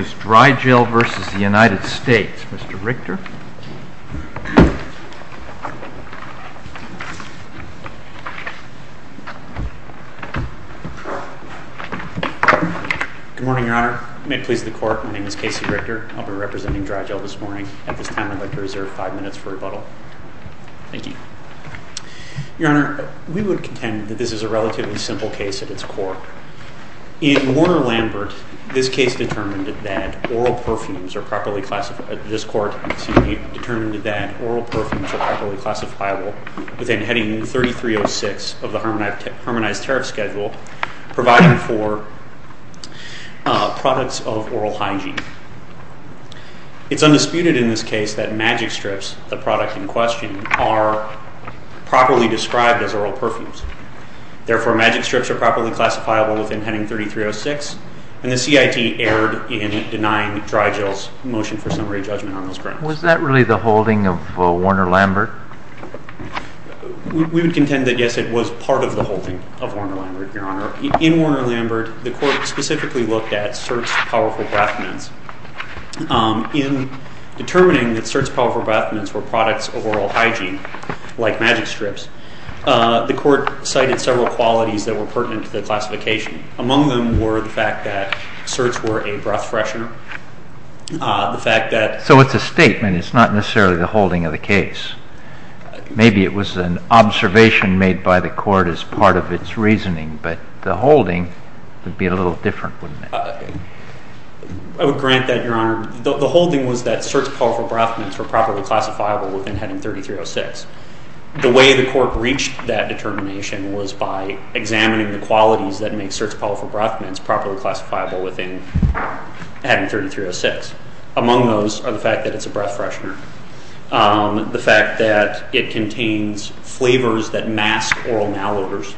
Mr. Richter. Good morning, Your Honor. May it please the Court, my name is Casey Richter. I'll be representing Drygel this morning. At this time, I'd like to reserve five minutes for rebuttal. Thank you. Your Honor, we would contend that this is a relatively simple case at its core. In Warner-Lambert, this case determined that oral perfumes are properly classified, this Court determined that oral perfumes are properly classifiable within Heading 3306 of the Harmonized Tariff Schedule, providing for products of oral hygiene. It's undisputed in this case that magic strips, the product in question, are properly described as oral perfumes. Therefore, magic strips are properly classifiable within Heading 3306, and the CIT erred in denying Drygel's motion for summary judgment on those grounds. Was that really the holding of Warner-Lambert? We would contend that, yes, it was part of the holding of Warner-Lambert, Your Honor. In Warner-Lambert, the Court specifically looked at certs powerful breath mints. In determining that certs powerful breath mints were products of oral hygiene, like magic strips, the Court cited several qualities that were pertinent to the classification. Among them were the fact that certs were a breath freshener, the fact that... So it's a statement, it's not necessarily the holding of the case. Maybe it was an observation made by the Court as part of its reasoning, but the holding would be a little different, wouldn't it? I would grant that, Your Honor. The holding was that certs powerful breath mints were properly classifiable within Heading 3306. The way the Court reached that determination was by examining the qualities that make certs powerful breath mints properly classifiable within Heading 3306. Among those are the fact that it's a breath freshener, the fact that it contains flavors that mask oral malodors,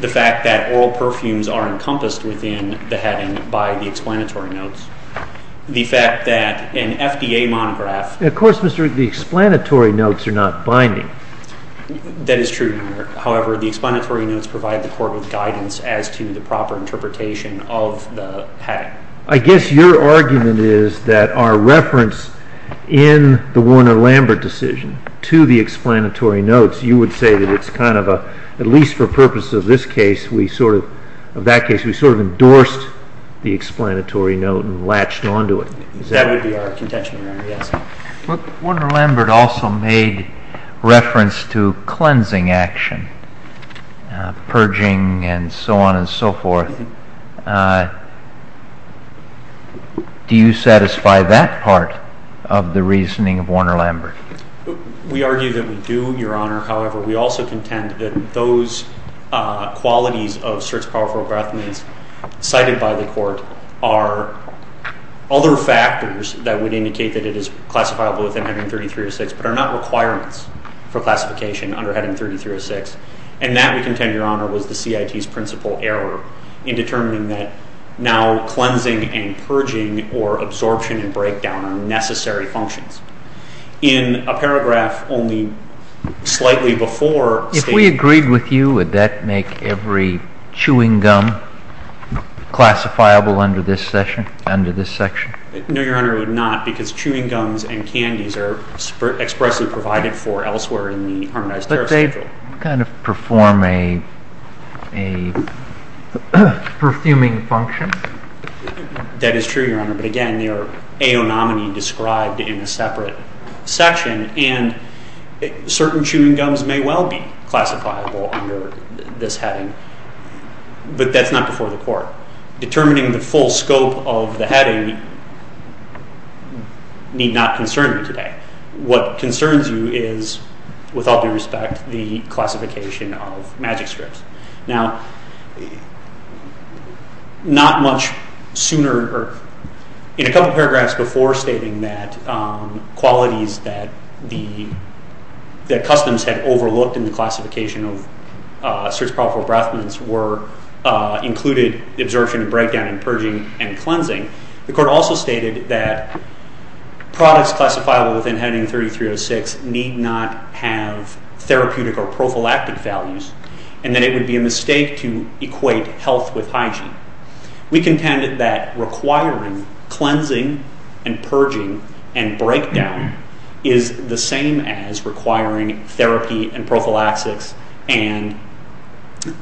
the fact that oral perfumes are encompassed within the heading by the explanatory notes, the fact that an FDA monograph... Of course, Mr. Rigg, the explanatory notes are not binding. That is true, Your Honor. However, the explanatory notes provide the Court with guidance as to the proper interpretation of the heading. I guess your argument is that our reference in the Warner-Lambert decision to the explanatory notes, you would say that it's kind of a... At least for purpose of this case, we sort of... Of that case, we sort of endorsed the latch onto it. That would be our contention, Your Honor, yes. Warner-Lambert also made reference to cleansing action, purging and so on and so forth. Do you satisfy that part of the reasoning of Warner-Lambert? We argue that we do, Your Honor. However, we also contend that those qualities of search-powerful graphemes cited by the Court are other factors that would indicate that it is classifiable within Heading 3306, but are not requirements for classification under Heading 3306. And that, we contend, Your Honor, was the CIT's principal error in determining that now cleansing and purging or absorption and breakdown are necessary functions. In a paragraph only slightly before... If we agreed with you, would that make every chewing gum classifiable under this section? No, Your Honor, it would not, because chewing gums and candies are expressly provided for elsewhere in the Harmonized Terrorist Control. But they kind of perform a perfuming function? That is true, Your Honor, but again, they would not be described in a separate section. And certain chewing gums may well be classifiable under this heading, but that's not before the Court. Determining the full scope of the heading need not concern you today. What concerns you is, with all due respect, the classification of magic strips. Now, not much sooner... In a couple paragraphs before stating that qualities that Customs had overlooked in the classification of search-probable breath mints included absorption and breakdown and purging and cleansing, the Court also stated that products classifiable within Heading 3306 need not have therapeutic or prophylactic values, and that it would be a mistake to equate health with hygiene. We contended that requiring cleansing and purging and breakdown is the same as requiring therapy and prophylactics and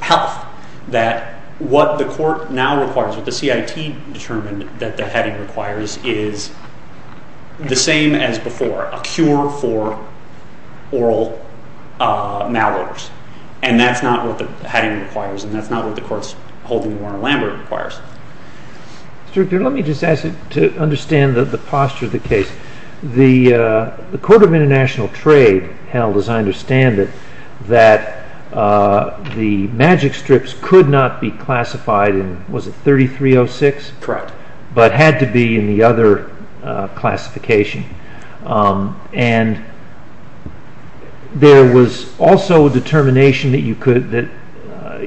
health. That what the Court now requires, what the CIT determined that the heading requires, is the same as before, a cure for oral malodors. And that's not what the heading requires, and that's not what the Court's holding Warren Lambert requires. Mr. Rector, let me just ask you to understand the posture of the case. The Court of International Trade held, as I understand it, that the magic strips could not be classified in, was it 3306? Correct. But had to be in the other classification. And there was also a determination that you could, that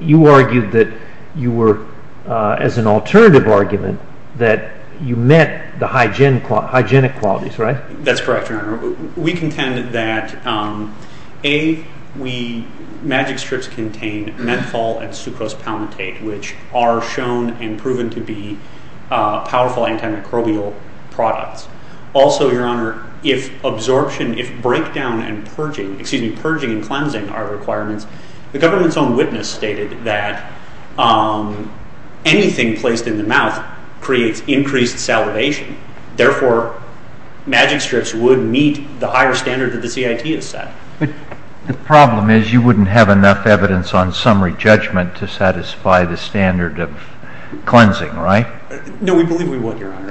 you argued that you were, as an alternative argument, that you met the hygienic qualities, right? That's correct, Your Honor. We contended that A, magic strips contain menthol and sucrose palmitate, which are shown and proven to be powerful antimicrobial products. Also, Your Honor, if absorption, if breakdown and purging, excuse me, purging and cleansing are requirements, the government's own witness stated that anything placed in the mouth creates increased salivation. Therefore, magic strips would meet the higher standard that the CIT has set. But the problem is you wouldn't have enough evidence on summary judgment to satisfy the standard of cleansing, right? No, we believe we would, Your Honor.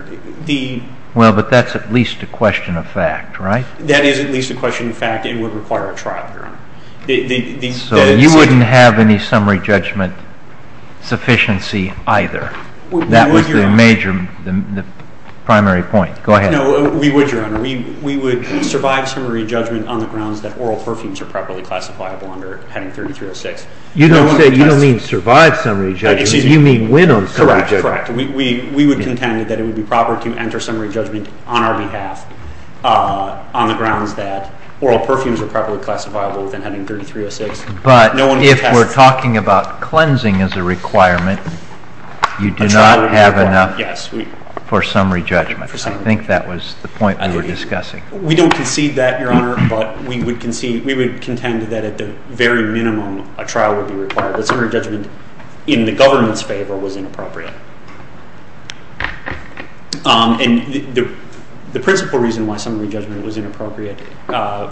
Well, but that's at least a question of fact, right? That is at least a question of fact and would require a trial, Your Honor. So you wouldn't have any summary judgment sufficiency either? That was the major, the primary point. Go ahead. No, we would, Your Honor. We would survive summary judgment on the grounds that oral perfumes are properly classifiable under heading 3306. You don't say, you don't mean survive summary judgment, you mean win on summary judgment. Correct, correct. We would contend that it would be proper to enter summary judgment on our behalf on the grounds that oral perfumes are properly classifiable within heading 3306. But if we're talking about cleansing as a requirement, you do not have enough for summary judgment. I think that was the point we were discussing. We don't concede that, Your Honor, but we would contend that at the very minimum a trial would be required. The summary judgment in the government's favor was inappropriate. And the principal reason why summary judgment was inappropriate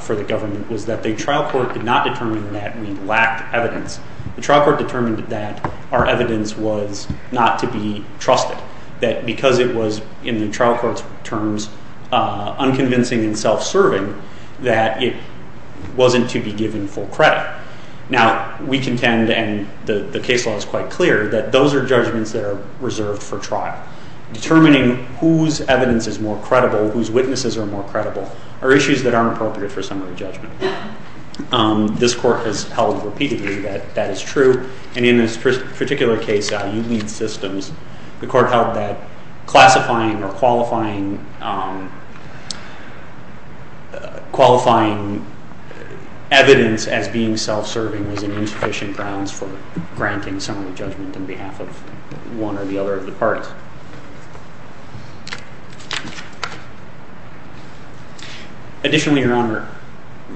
for the government was that the trial court did not determine that we lacked evidence. The trial court determined that our evidence was not to be trusted, that because it was, in the trial court's terms, unconvincing and self-serving, that it wasn't to be given full credit. Now, we contend, and the case law is quite clear, that those are judgments that are reserved for trial. Determining whose evidence is more credible, whose witnesses are more credible, are issues that aren't appropriate for summary judgment. This Court has held repeatedly that that is true. And in this particular case, IU Lead Systems, the Court held that classifying or qualifying evidence as being self-serving was an insufficient grounds for granting summary judgment on behalf of one or the other of the parties. Additionally, Your Honor,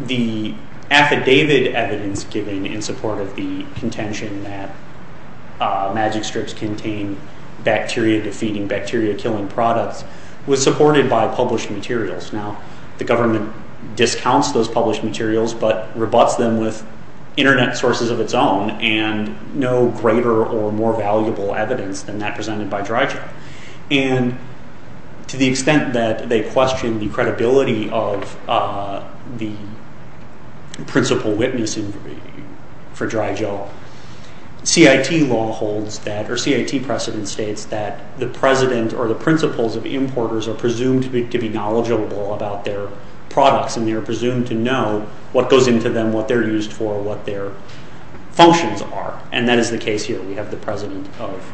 the affidavit evidence given in support of the contention that magic strips contain bacteria-defeating, bacteria-killing products was supported by published materials. Now, the government discounts those published materials, but rebutts them with internet sources of its own and no greater or more valuable evidence than that presented by Dry Joe. And to the extent that they question the credibility of the principal witness for Dry Joe, CIT law holds that, or CIT precedent states, that the president or the principals of importers are presumed to be knowledgeable about their products, and they are presumed to know what goes into them, what they're used for, what their functions are. And that is the case here. We have the president of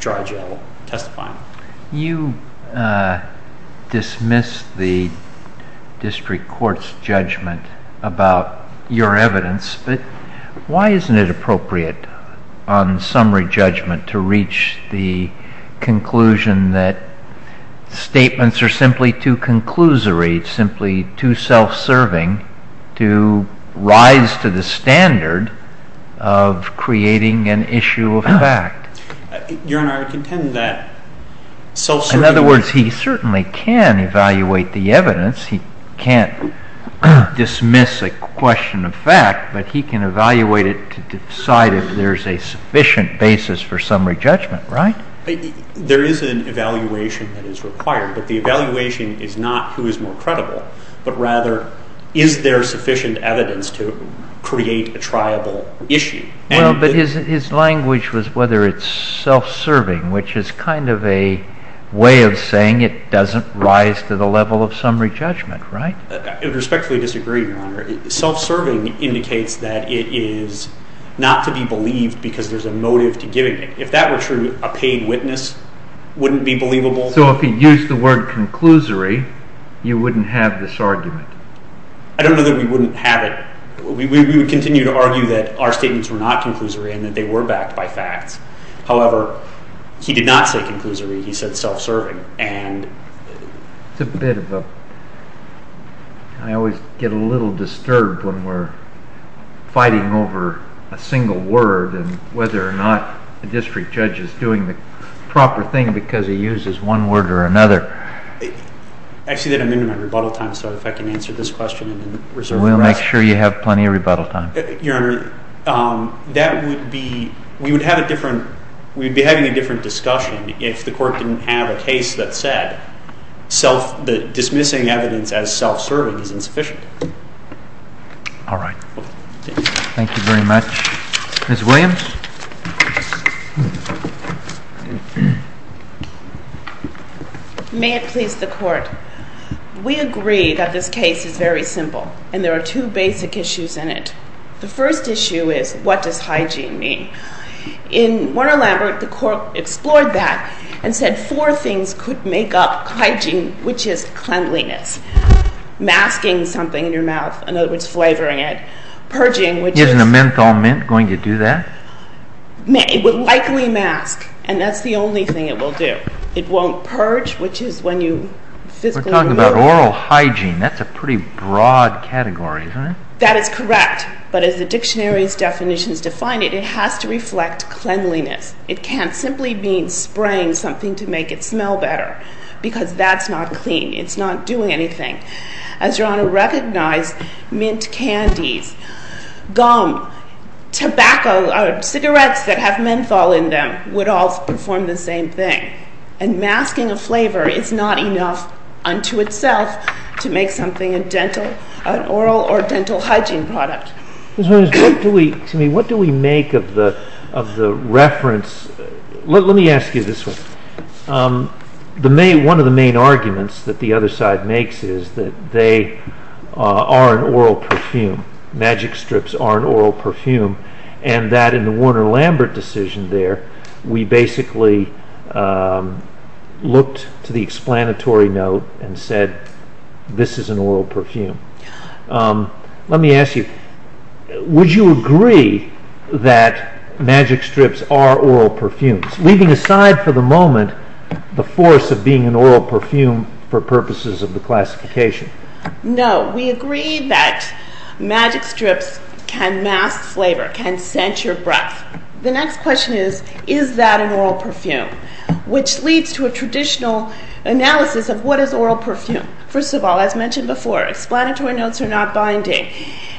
Dry Joe testifying. You dismiss the district court's judgment about your evidence, but why isn't it appropriate on summary judgment to reach the conclusion that statements are simply too conclusory, simply too self-serving, to rise to the standard of creating an issue of fact? Your Honor, I contend that self-serving... In other words, he certainly can evaluate the evidence. He can't dismiss a question of fact, but he can evaluate it to decide if there's a sufficient basis for summary judgment, right? There is an evaluation that is required, but the evaluation is not who is more credible, but rather, is there sufficient evidence to create a triable issue? Well, but his language was whether it's self-serving, which is kind of a way of saying it doesn't rise to the level of summary judgment, right? I respectfully disagree, Your Honor. Self-serving indicates that it is not to be believed because there's a motive to giving it. If that were true, a paid witness wouldn't be believable. So if he used the word conclusory, you wouldn't have this argument? I don't know that we wouldn't have it. We would continue to argue that our statements were not conclusory and that they were backed by facts. However, he did not say conclusory. He said self-serving, and... It's a bit of a... I always get a little disturbed when we're fighting over a single word and whether or not a district judge is doing the proper thing because he uses one word or another. Actually, I'm into my rebuttal time, so if I can answer this question in reserve of breath... We'll make sure you have plenty of rebuttal time. Your Honor, that would be... we would have a different... we'd be having a different discussion if the court didn't have a case that said self... that dismissing evidence as self-serving is insufficient. All right. Thank you very much. Ms. Williams? May it please the Court. We agree that this case is very simple, and there are two basic issues in it. The first issue is, what does hygiene mean? In Warner-Lambert, the court explored that and said four things could make up hygiene, which is cleanliness, masking something in your mouth, in other words, flavoring it, purging, which is... It would likely mask, and that's the only thing it will do. It won't purge, which is when you physically remove... We're talking about oral hygiene. That's a pretty broad category, isn't it? That is correct, but as the dictionary's definitions define it, it has to reflect cleanliness. It can't simply mean spraying something to make it smell better because that's not clean. It's not doing anything. As Your Honor recognized, mint candies, gum, tobacco, cigarettes that have menthol in them would all perform the same thing, and masking a flavor is not enough unto itself to make something a dental... an oral or dental hygiene product. Excuse me, what do we make of the reference... Let me ask you this one. One of the main arguments that the other side makes is that they are an oral perfume, magic strips are an oral perfume, and that in the Warner-Lambert decision there, we basically looked to the explanatory note and said, this is an oral perfume. Let me ask you, would you agree that magic strips are oral perfumes, leaving aside for the moment the force of being an oral perfume for purposes of the classification? No, we agree that magic strips can mask flavor, can scent your breath. The next question is, is that an oral perfume, which leads to a traditional analysis of what is oral perfume. First of all, as mentioned before, explanatory notes are not binding,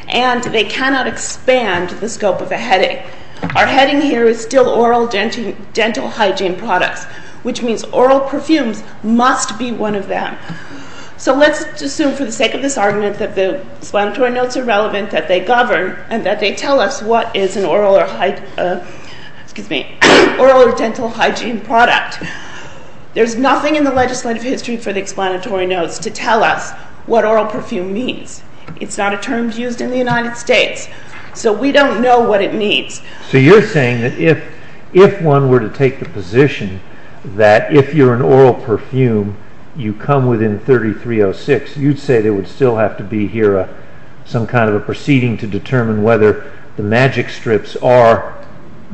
and they cannot expand the scope of a heading. Our heading here is still oral dental hygiene products, which means oral perfumes must be one of them. So let's assume for the sake of this argument that the explanatory notes are relevant, that they govern, and that they tell us what is an oral or high... Excuse me, oral or dental hygiene product. There's nothing in the legislative history for the explanatory notes to tell us what oral perfume means. It's not a term used in the United States, so we don't know what it means. So you're saying that if one were to take the position that if you're an oral perfume, you come within 3306, you'd say there would still have to be here some kind of a proceeding to determine whether the magic strips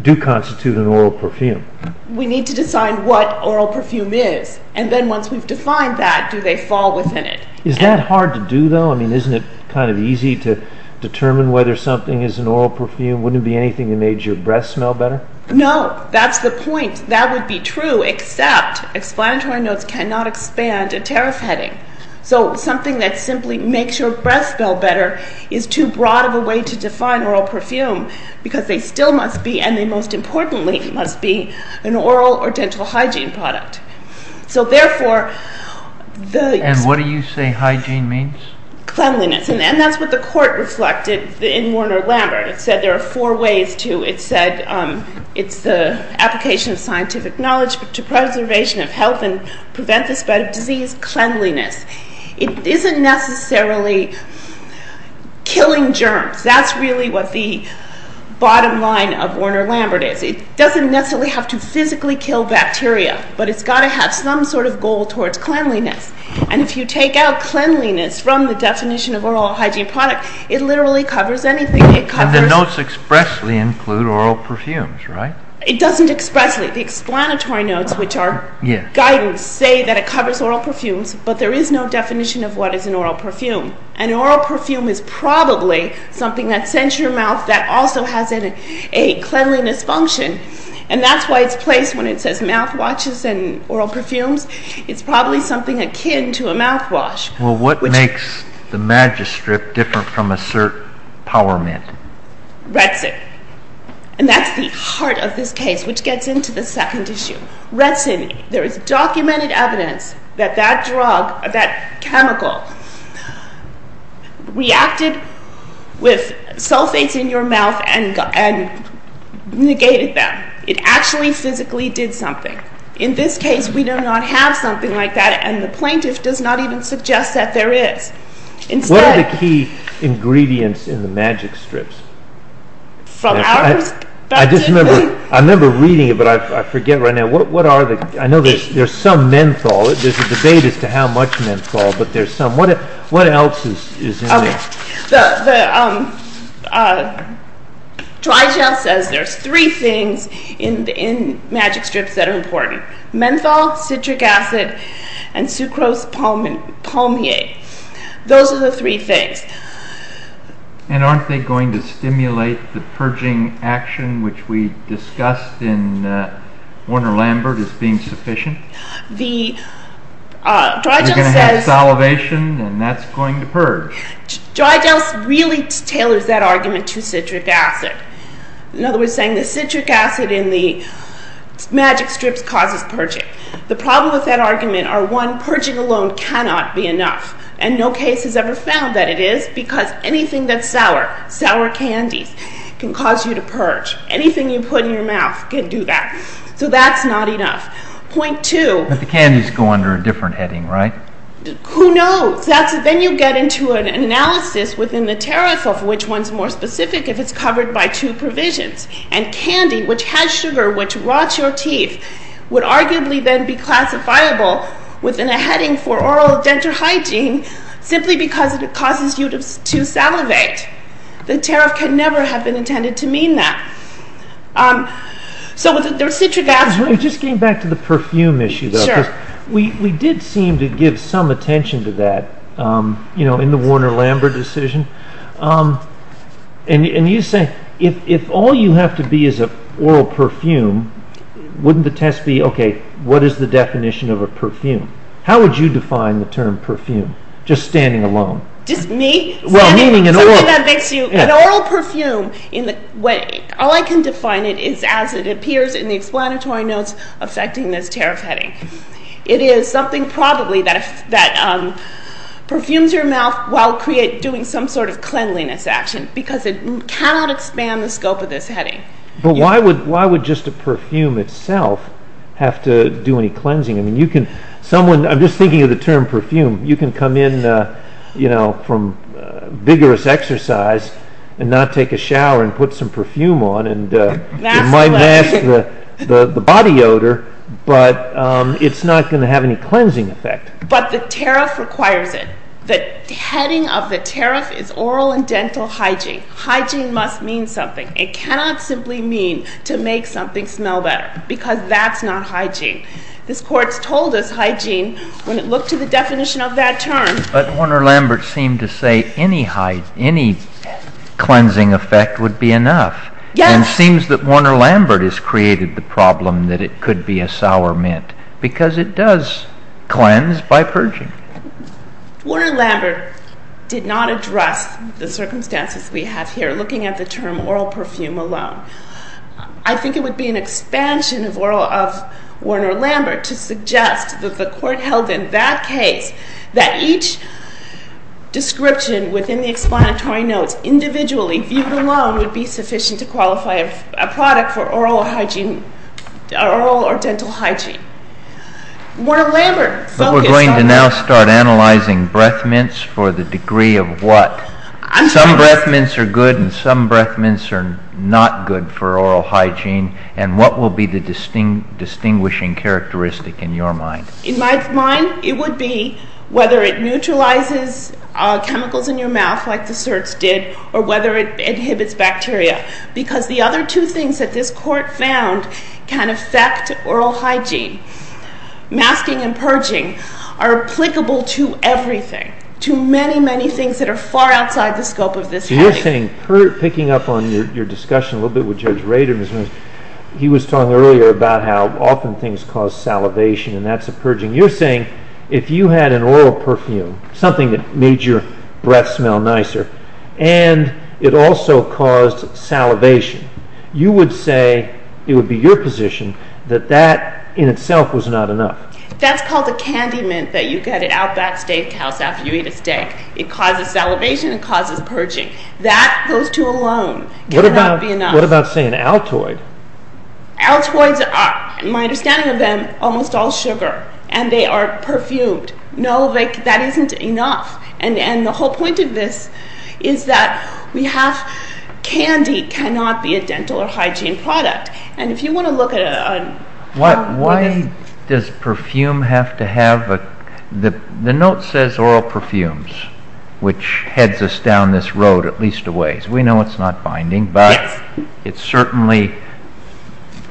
do constitute an oral perfume. We need to decide what oral perfume is, and then once we've defined that, do they fall within it. Is that hard to do, though? I mean, isn't it kind of easy to determine whether something is an oral perfume? Wouldn't it be anything that made your breath smell better? No, that's the point. That would be true, except explanatory notes cannot expand a tariff heading. So something that simply makes your breath smell better is too broad of a way to define oral perfume, because they still must be, and they most importantly must be, an oral or dental hygiene product. And what do you say hygiene means? Cleanliness, and that's what the court reflected in Warner-Lambert. It said there are four ways to, it said it's the application of scientific knowledge to preservation of health and prevent the spread of disease, cleanliness. It isn't necessarily killing germs. That's really what the bottom line of Warner-Lambert is. It doesn't necessarily have to physically kill bacteria, but it's got to have some sort of goal towards cleanliness. And if you take out cleanliness from the definition of oral hygiene product, it literally covers anything. And the notes expressly include oral perfumes, right? It doesn't expressly. The explanatory notes, which are guidance, say that it covers oral perfumes, but there is no definition of what is an oral perfume. An oral perfume is probably something that scents your mouth, that also has a cleanliness function, and that's why it's placed when it says mouthwashes and oral perfumes. It's probably something akin to a mouthwash. Well, what makes the magistrate different from a cert power mint? Retsin. And that's the heart of this case, which gets into the second issue. Retsin, there is documented evidence that that drug, that chemical, reacted with sulfates in your mouth and negated them. It actually physically did something. In this case, we do not have something like that, and the plaintiff does not even suggest that there is. What are the key ingredients in the magic strips? I remember reading it, but I forget right now. I know there's some menthol. There's a debate as to how much menthol, but there's some. What else is in there? Dry gel says there's three things in magic strips that are important. Menthol, citric acid, and sucrose palmier. Those are the three things. And aren't they going to stimulate the purging action, which we discussed in Warner-Lambert as being sufficient? The dry gel says— You're going to have salivation, and that's going to purge. Dry gel really tailors that argument to citric acid. In other words, saying the citric acid in the magic strips causes purging. The problem with that argument are, one, purging alone cannot be enough, and no case has ever found that it is, because anything that's sour, sour candies, can cause you to purge. Anything you put in your mouth can do that. So that's not enough. Point two— But the candies go under a different heading, right? Who knows? Then you get into an analysis within the tariff of which one's more specific, if it's covered by two provisions. And candy, which has sugar, which rots your teeth, would arguably then be classifiable within a heading for oral dental hygiene, simply because it causes you to salivate. The tariff could never have been intended to mean that. So there's citric acid— It just came back to the perfume issue, though, because we did seem to give some attention to that in the Warner-Lambert decision. And you say, if all you have to be is an oral perfume, wouldn't the test be, okay, what is the definition of a perfume? How would you define the term perfume? Just standing alone. Just me? An oral perfume, all I can define it is as it appears in the explanatory notes affecting this tariff heading. It is something probably that perfumes your mouth while doing some sort of cleanliness action, because it cannot expand the scope of this heading. But why would just a perfume itself have to do any cleansing? I'm just thinking of the term perfume. You can come in from vigorous exercise and not take a shower and put some perfume on, and it might mask the body odor, but it's not going to have any cleansing effect. But the tariff requires it. The heading of the tariff is oral and dental hygiene. Hygiene must mean something. It cannot simply mean to make something smell better, because that's not hygiene. This Court's told us hygiene when it looked to the definition of that term. But Warner-Lambert seemed to say any cleansing effect would be enough. Yes. And it seems that Warner-Lambert has created the problem that it could be a sour mint, because it does cleanse by purging. Warner-Lambert did not address the circumstances we have here looking at the term oral perfume alone. I think it would be an expansion of Warner-Lambert to suggest that the Court held in that case that each description within the explanatory notes individually viewed alone would be sufficient to qualify a product for oral hygiene, oral or dental hygiene. Warner-Lambert focused on that. But we're going to now start analyzing breath mints for the degree of what. Some breath mints are good and some breath mints are not good for oral hygiene. And what will be the distinguishing characteristic in your mind? In my mind, it would be whether it neutralizes chemicals in your mouth like the certs did or whether it inhibits bacteria. Because the other two things that this Court found can affect oral hygiene. Masking and purging are applicable to everything, to many, many things that are far outside the scope of this case. You're saying, picking up on your discussion a little bit with Judge Rader, he was talking earlier about how often things cause salivation and that's a purging. You're saying if you had an oral perfume, something that made your breath smell nicer, and it also caused salivation, you would say it would be your position that that in itself was not enough. That's called a candy mint that you get at Outback Steakhouse after you eat a steak. It causes salivation, it causes purging. That, those two alone, cannot be enough. What about, say, an Altoid? Altoids are, in my understanding of them, almost all sugar. And they are perfumed. No, that isn't enough. And the whole point of this is that candy cannot be a dental or hygiene product. And if you want to look at a... Why does perfume have to have... The note says oral perfumes, which heads us down this road at least a ways. We know it's not binding, but it certainly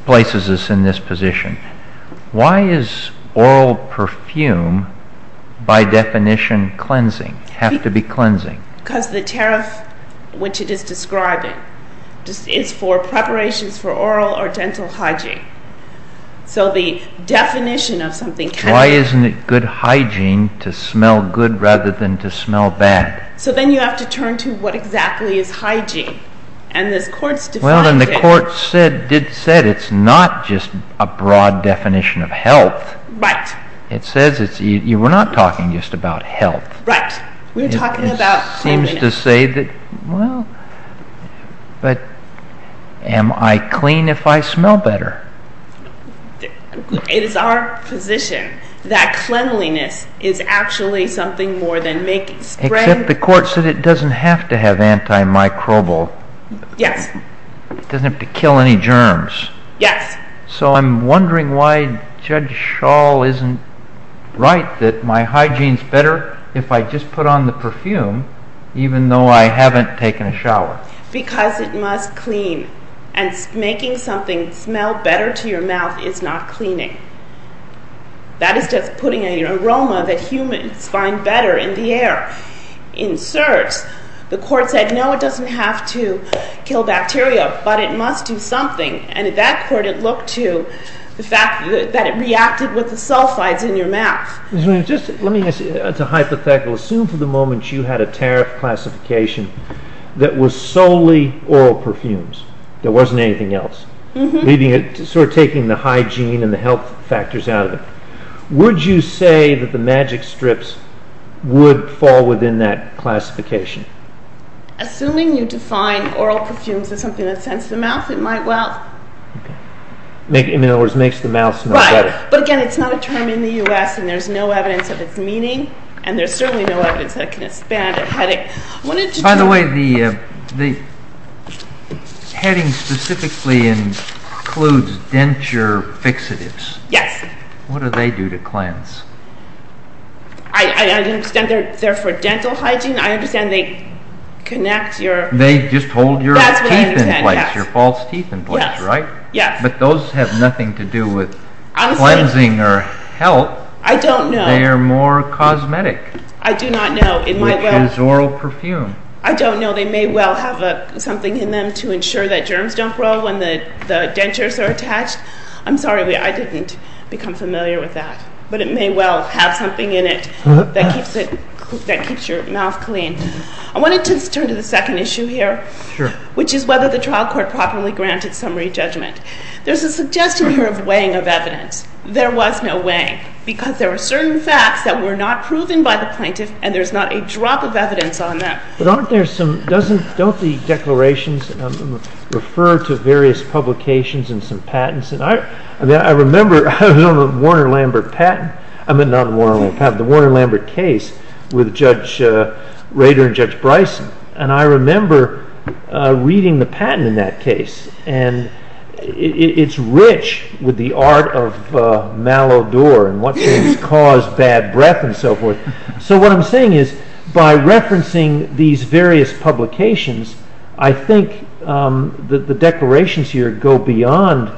places us in this position. Why is oral perfume, by definition, cleansing, have to be cleansing? Because the tariff which it is describing is for preparations for oral or dental hygiene. So the definition of something... Why isn't it good hygiene to smell good rather than to smell bad? So then you have to turn to what exactly is hygiene. And this court's defined it... Well, and the court did say it's not just a broad definition of health. Right. It says it's... you were not talking just about health. Right. We were talking about cleanliness. It seems to say that, well, but am I clean if I smell better? It is our position that cleanliness is actually something more than making spray... Except the court said it doesn't have to have antimicrobial. Yes. It doesn't have to kill any germs. Yes. So I'm wondering why Judge Schall isn't right that my hygiene's better if I just put on the perfume, even though I haven't taken a shower. Because it must clean. And making something smell better to your mouth is not cleaning. That is just putting an aroma that humans find better in the air. In certs, the court said, no, it doesn't have to kill bacteria, but it must do something. And in that court, it looked to the fact that it reacted with the sulfides in your mouth. Let me ask you, it's a hypothetical. Assume for the moment you had a tariff classification that was solely oral perfumes. There wasn't anything else. Sort of taking the hygiene and the health factors out of it. Would you say that the Magic Strips would fall within that classification? Assuming you define oral perfumes as something that scents the mouth, it might well. Okay. In other words, makes the mouth smell better. Right. But again, it's not a term in the U.S., and there's no evidence of its meaning. And there's certainly no evidence that it can expand a headache. By the way, the heading specifically includes denture fixatives. Yes. What do they do to cleanse? I understand they're for dental hygiene. I understand they connect your… They just hold your teeth in place, your false teeth in place, right? Yes. But those have nothing to do with cleansing or health. I don't know. They are more cosmetic. I do not know. It is oral perfume. I don't know. They may well have something in them to ensure that germs don't grow when the dentures are attached. I'm sorry. I didn't become familiar with that. But it may well have something in it that keeps your mouth clean. I wanted to turn to the second issue here, which is whether the trial court properly granted summary judgment. There's a suggestion here of weighing of evidence. There was no weighing because there were certain facts that were not proven by the plaintiff, and there's not a drop of evidence on them. But aren't there some… Don't the declarations refer to various publications and some patents? I remember I was on the Warner-Lambert case with Judge Rader and Judge Bryson, and I remember reading the patent in that case. And it's rich with the art of malodour and what things cause bad breath and so forth. So what I'm saying is by referencing these various publications, I think the declarations here go beyond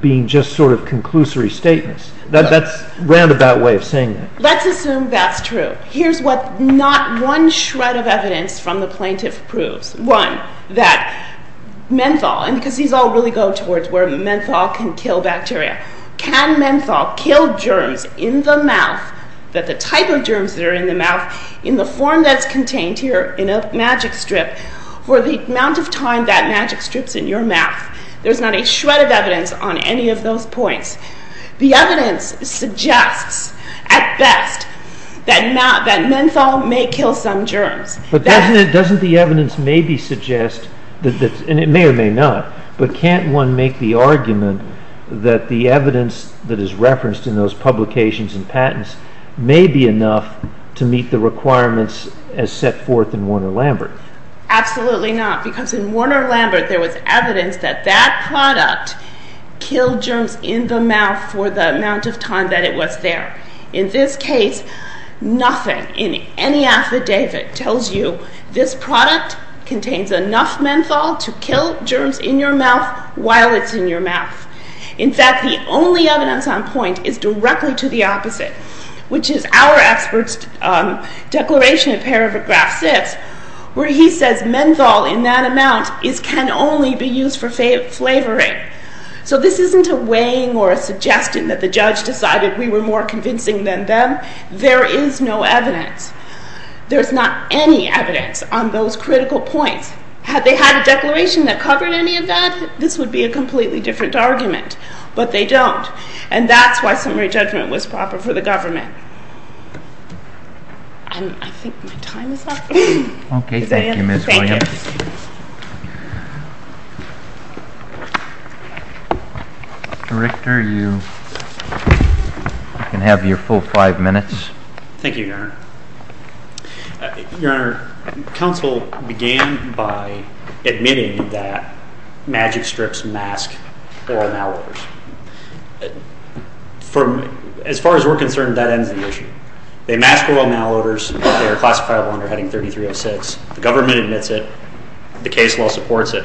being just sort of conclusory statements. That's a roundabout way of saying that. Let's assume that's true. Here's what not one shred of evidence from the plaintiff proves. One, that menthol, and because these all really go towards where menthol can kill bacteria, can menthol kill germs in the mouth, that the type of germs that are in the mouth, in the form that's contained here in a magic strip, for the amount of time that magic strip's in your mouth, there's not a shred of evidence on any of those points. The evidence suggests at best that menthol may kill some germs. But doesn't the evidence maybe suggest, and it may or may not, but can't one make the argument that the evidence that is referenced in those publications and patents may be enough to meet the requirements as set forth in Warner-Lambert? Absolutely not, because in Warner-Lambert there was evidence that that product killed germs in the mouth for the amount of time that it was there. In this case, nothing in any affidavit tells you this product contains enough menthol to kill germs in your mouth while it's in your mouth. In fact, the only evidence on point is directly to the opposite, which is our expert's declaration in paragraph 6, where he says menthol in that amount can only be used for flavoring. So this isn't a weighing or a suggestion that the judge decided we were more convincing than them. There is no evidence. There's not any evidence on those critical points. Had they had a declaration that covered any of that, this would be a completely different argument. But they don't, and that's why summary judgment was proper for the government. I think my time is up. Okay, thank you, Ms. Williams. Director, you can have your full five minutes. Thank you, Your Honor. Your Honor, counsel began by admitting that Magic Strips mask oral malodors. As far as we're concerned, that ends the issue. They mask oral malodors. They are classifiable under Heading 3306. The government admits it. The case law supports it.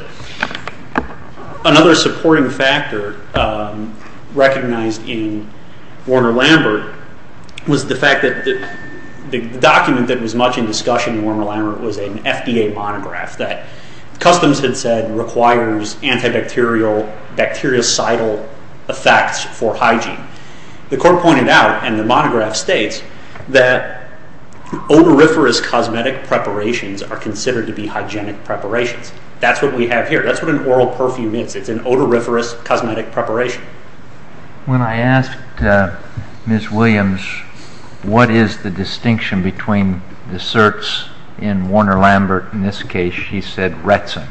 Another supporting factor recognized in Warner-Lambert was the fact that the document that was much in discussion in Warner-Lambert was an FDA monograph that Customs had said requires antibacterial, bactericidal effects for hygiene. The court pointed out, and the monograph states, that odoriferous cosmetic preparations are considered to be hygienic preparations. That's what we have here. That's what an oral perfume is. It's an odoriferous cosmetic preparation. When I asked Ms. Williams what is the distinction between the certs in Warner-Lambert, in this case she said Retsin.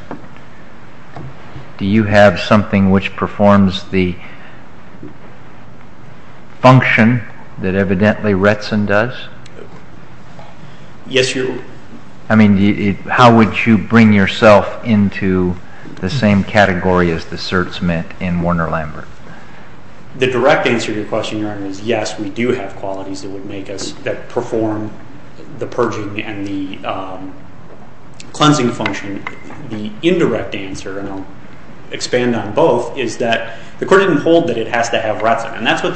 Do you have something which performs the function that evidently Retsin does? Yes, Your Honor. How would you bring yourself into the same category as the certs meant in Warner-Lambert? The direct answer to your question, Your Honor, is yes, we do have qualities that would make us perform the purging and the cleansing function. The indirect answer, and I'll expand on both, is that the court didn't hold that it has to have Retsin, and that's what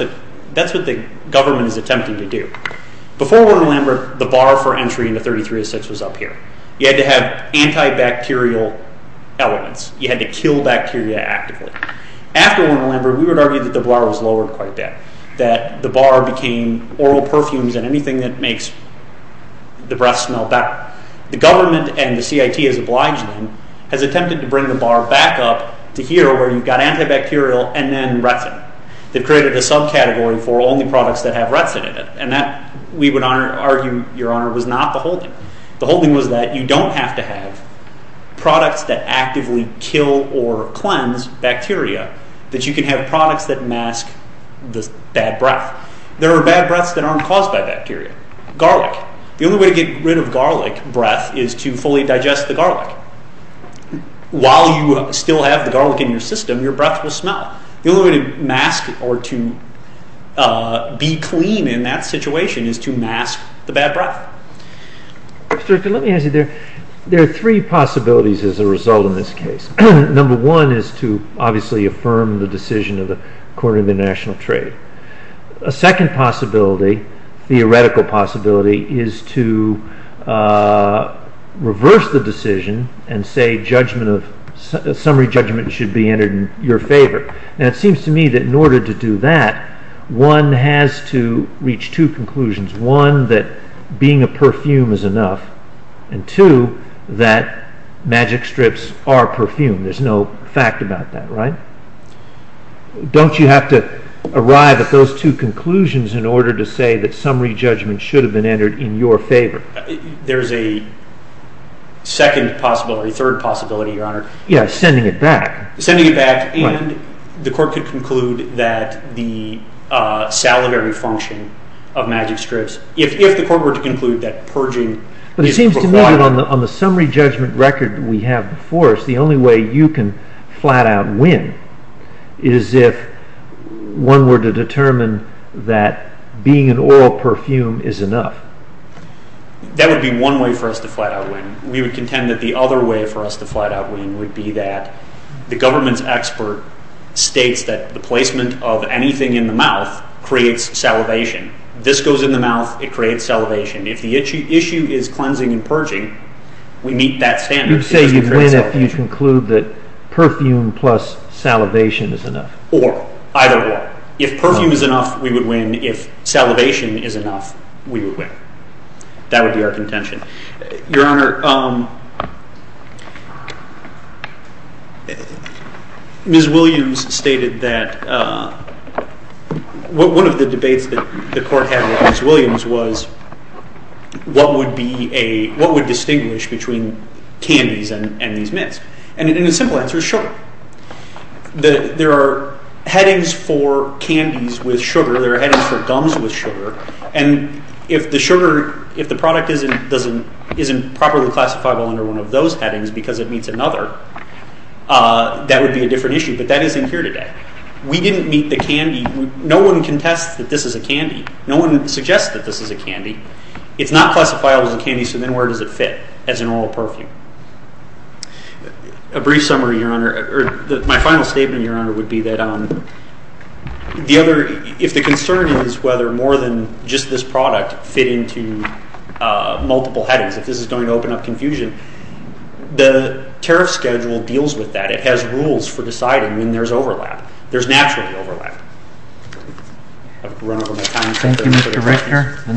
the government is attempting to do. Before Warner-Lambert, the bar for entry into 33-06 was up here. You had to have antibacterial elements. You had to kill bacteria actively. After Warner-Lambert, we would argue that the bar was lowered quite a bit, that the bar became oral perfumes and anything that makes the breath smell better. The government and the CIT has obliged them, has attempted to bring the bar back up to here where you've got antibacterial and then Retsin. They've created a subcategory for only products that have Retsin in it, and that, we would argue, Your Honor, was not the holding. The holding was that you don't have to have products that actively kill or cleanse bacteria, that you can have products that mask the bad breath. There are bad breaths that aren't caused by bacteria. Garlic. The only way to get rid of garlic breath is to fully digest the garlic. While you still have the garlic in your system, your breath will smell. The only way to mask or to be clean in that situation is to mask the bad breath. Let me ask you, there are three possibilities as a result in this case. Number one is to obviously affirm the decision of the Court of International Trade. A second possibility, theoretical possibility, is to reverse the decision and say summary judgment should be entered in your favor. It seems to me that in order to do that, one has to reach two conclusions. One, that being a perfume is enough, and two, that magic strips are perfume. There's no fact about that, right? Don't you have to arrive at those two conclusions in order to say that summary judgment should have been entered in your favor? There's a second possibility, third possibility, Your Honor. Yes, sending it back. Sending it back, and the Court could conclude that the salivary function of magic strips, if the Court were to conclude that purging is required. It seems to me that on the summary judgment record we have before us, the only way you can flat out win is if one were to determine that being an oral perfume is enough. That would be one way for us to flat out win. We would contend that the other way for us to flat out win would be that the government's expert states that the placement of anything in the mouth creates salivation. This goes in the mouth, it creates salivation. If the issue is cleansing and purging, we meet that standard. You'd say you'd win if you conclude that perfume plus salivation is enough. Or, either or. If perfume is enough, we would win. If salivation is enough, we would win. That would be our contention. Your Honor, Ms. Williams stated that one of the debates that the Court had with Ms. Williams was what would distinguish between candies and these myths? And the simple answer is sure. There are headings for candies with sugar, there are headings for gums with sugar, and if the sugar, if the product isn't properly classifiable under one of those headings because it meets another, that would be a different issue. But that isn't here today. We didn't meet the candy. No one contests that this is a candy. No one suggests that this is a candy. It's not classifiable as a candy, so then where does it fit as an oral perfume? A brief summary, Your Honor. My final statement, Your Honor, would be that if the concern is whether more than just this product fit into multiple headings, if this is going to open up confusion, the tariff schedule deals with that. It has rules for deciding when there's overlap. There's naturally overlap. I've run over my time. Thank you, Mr. Richter.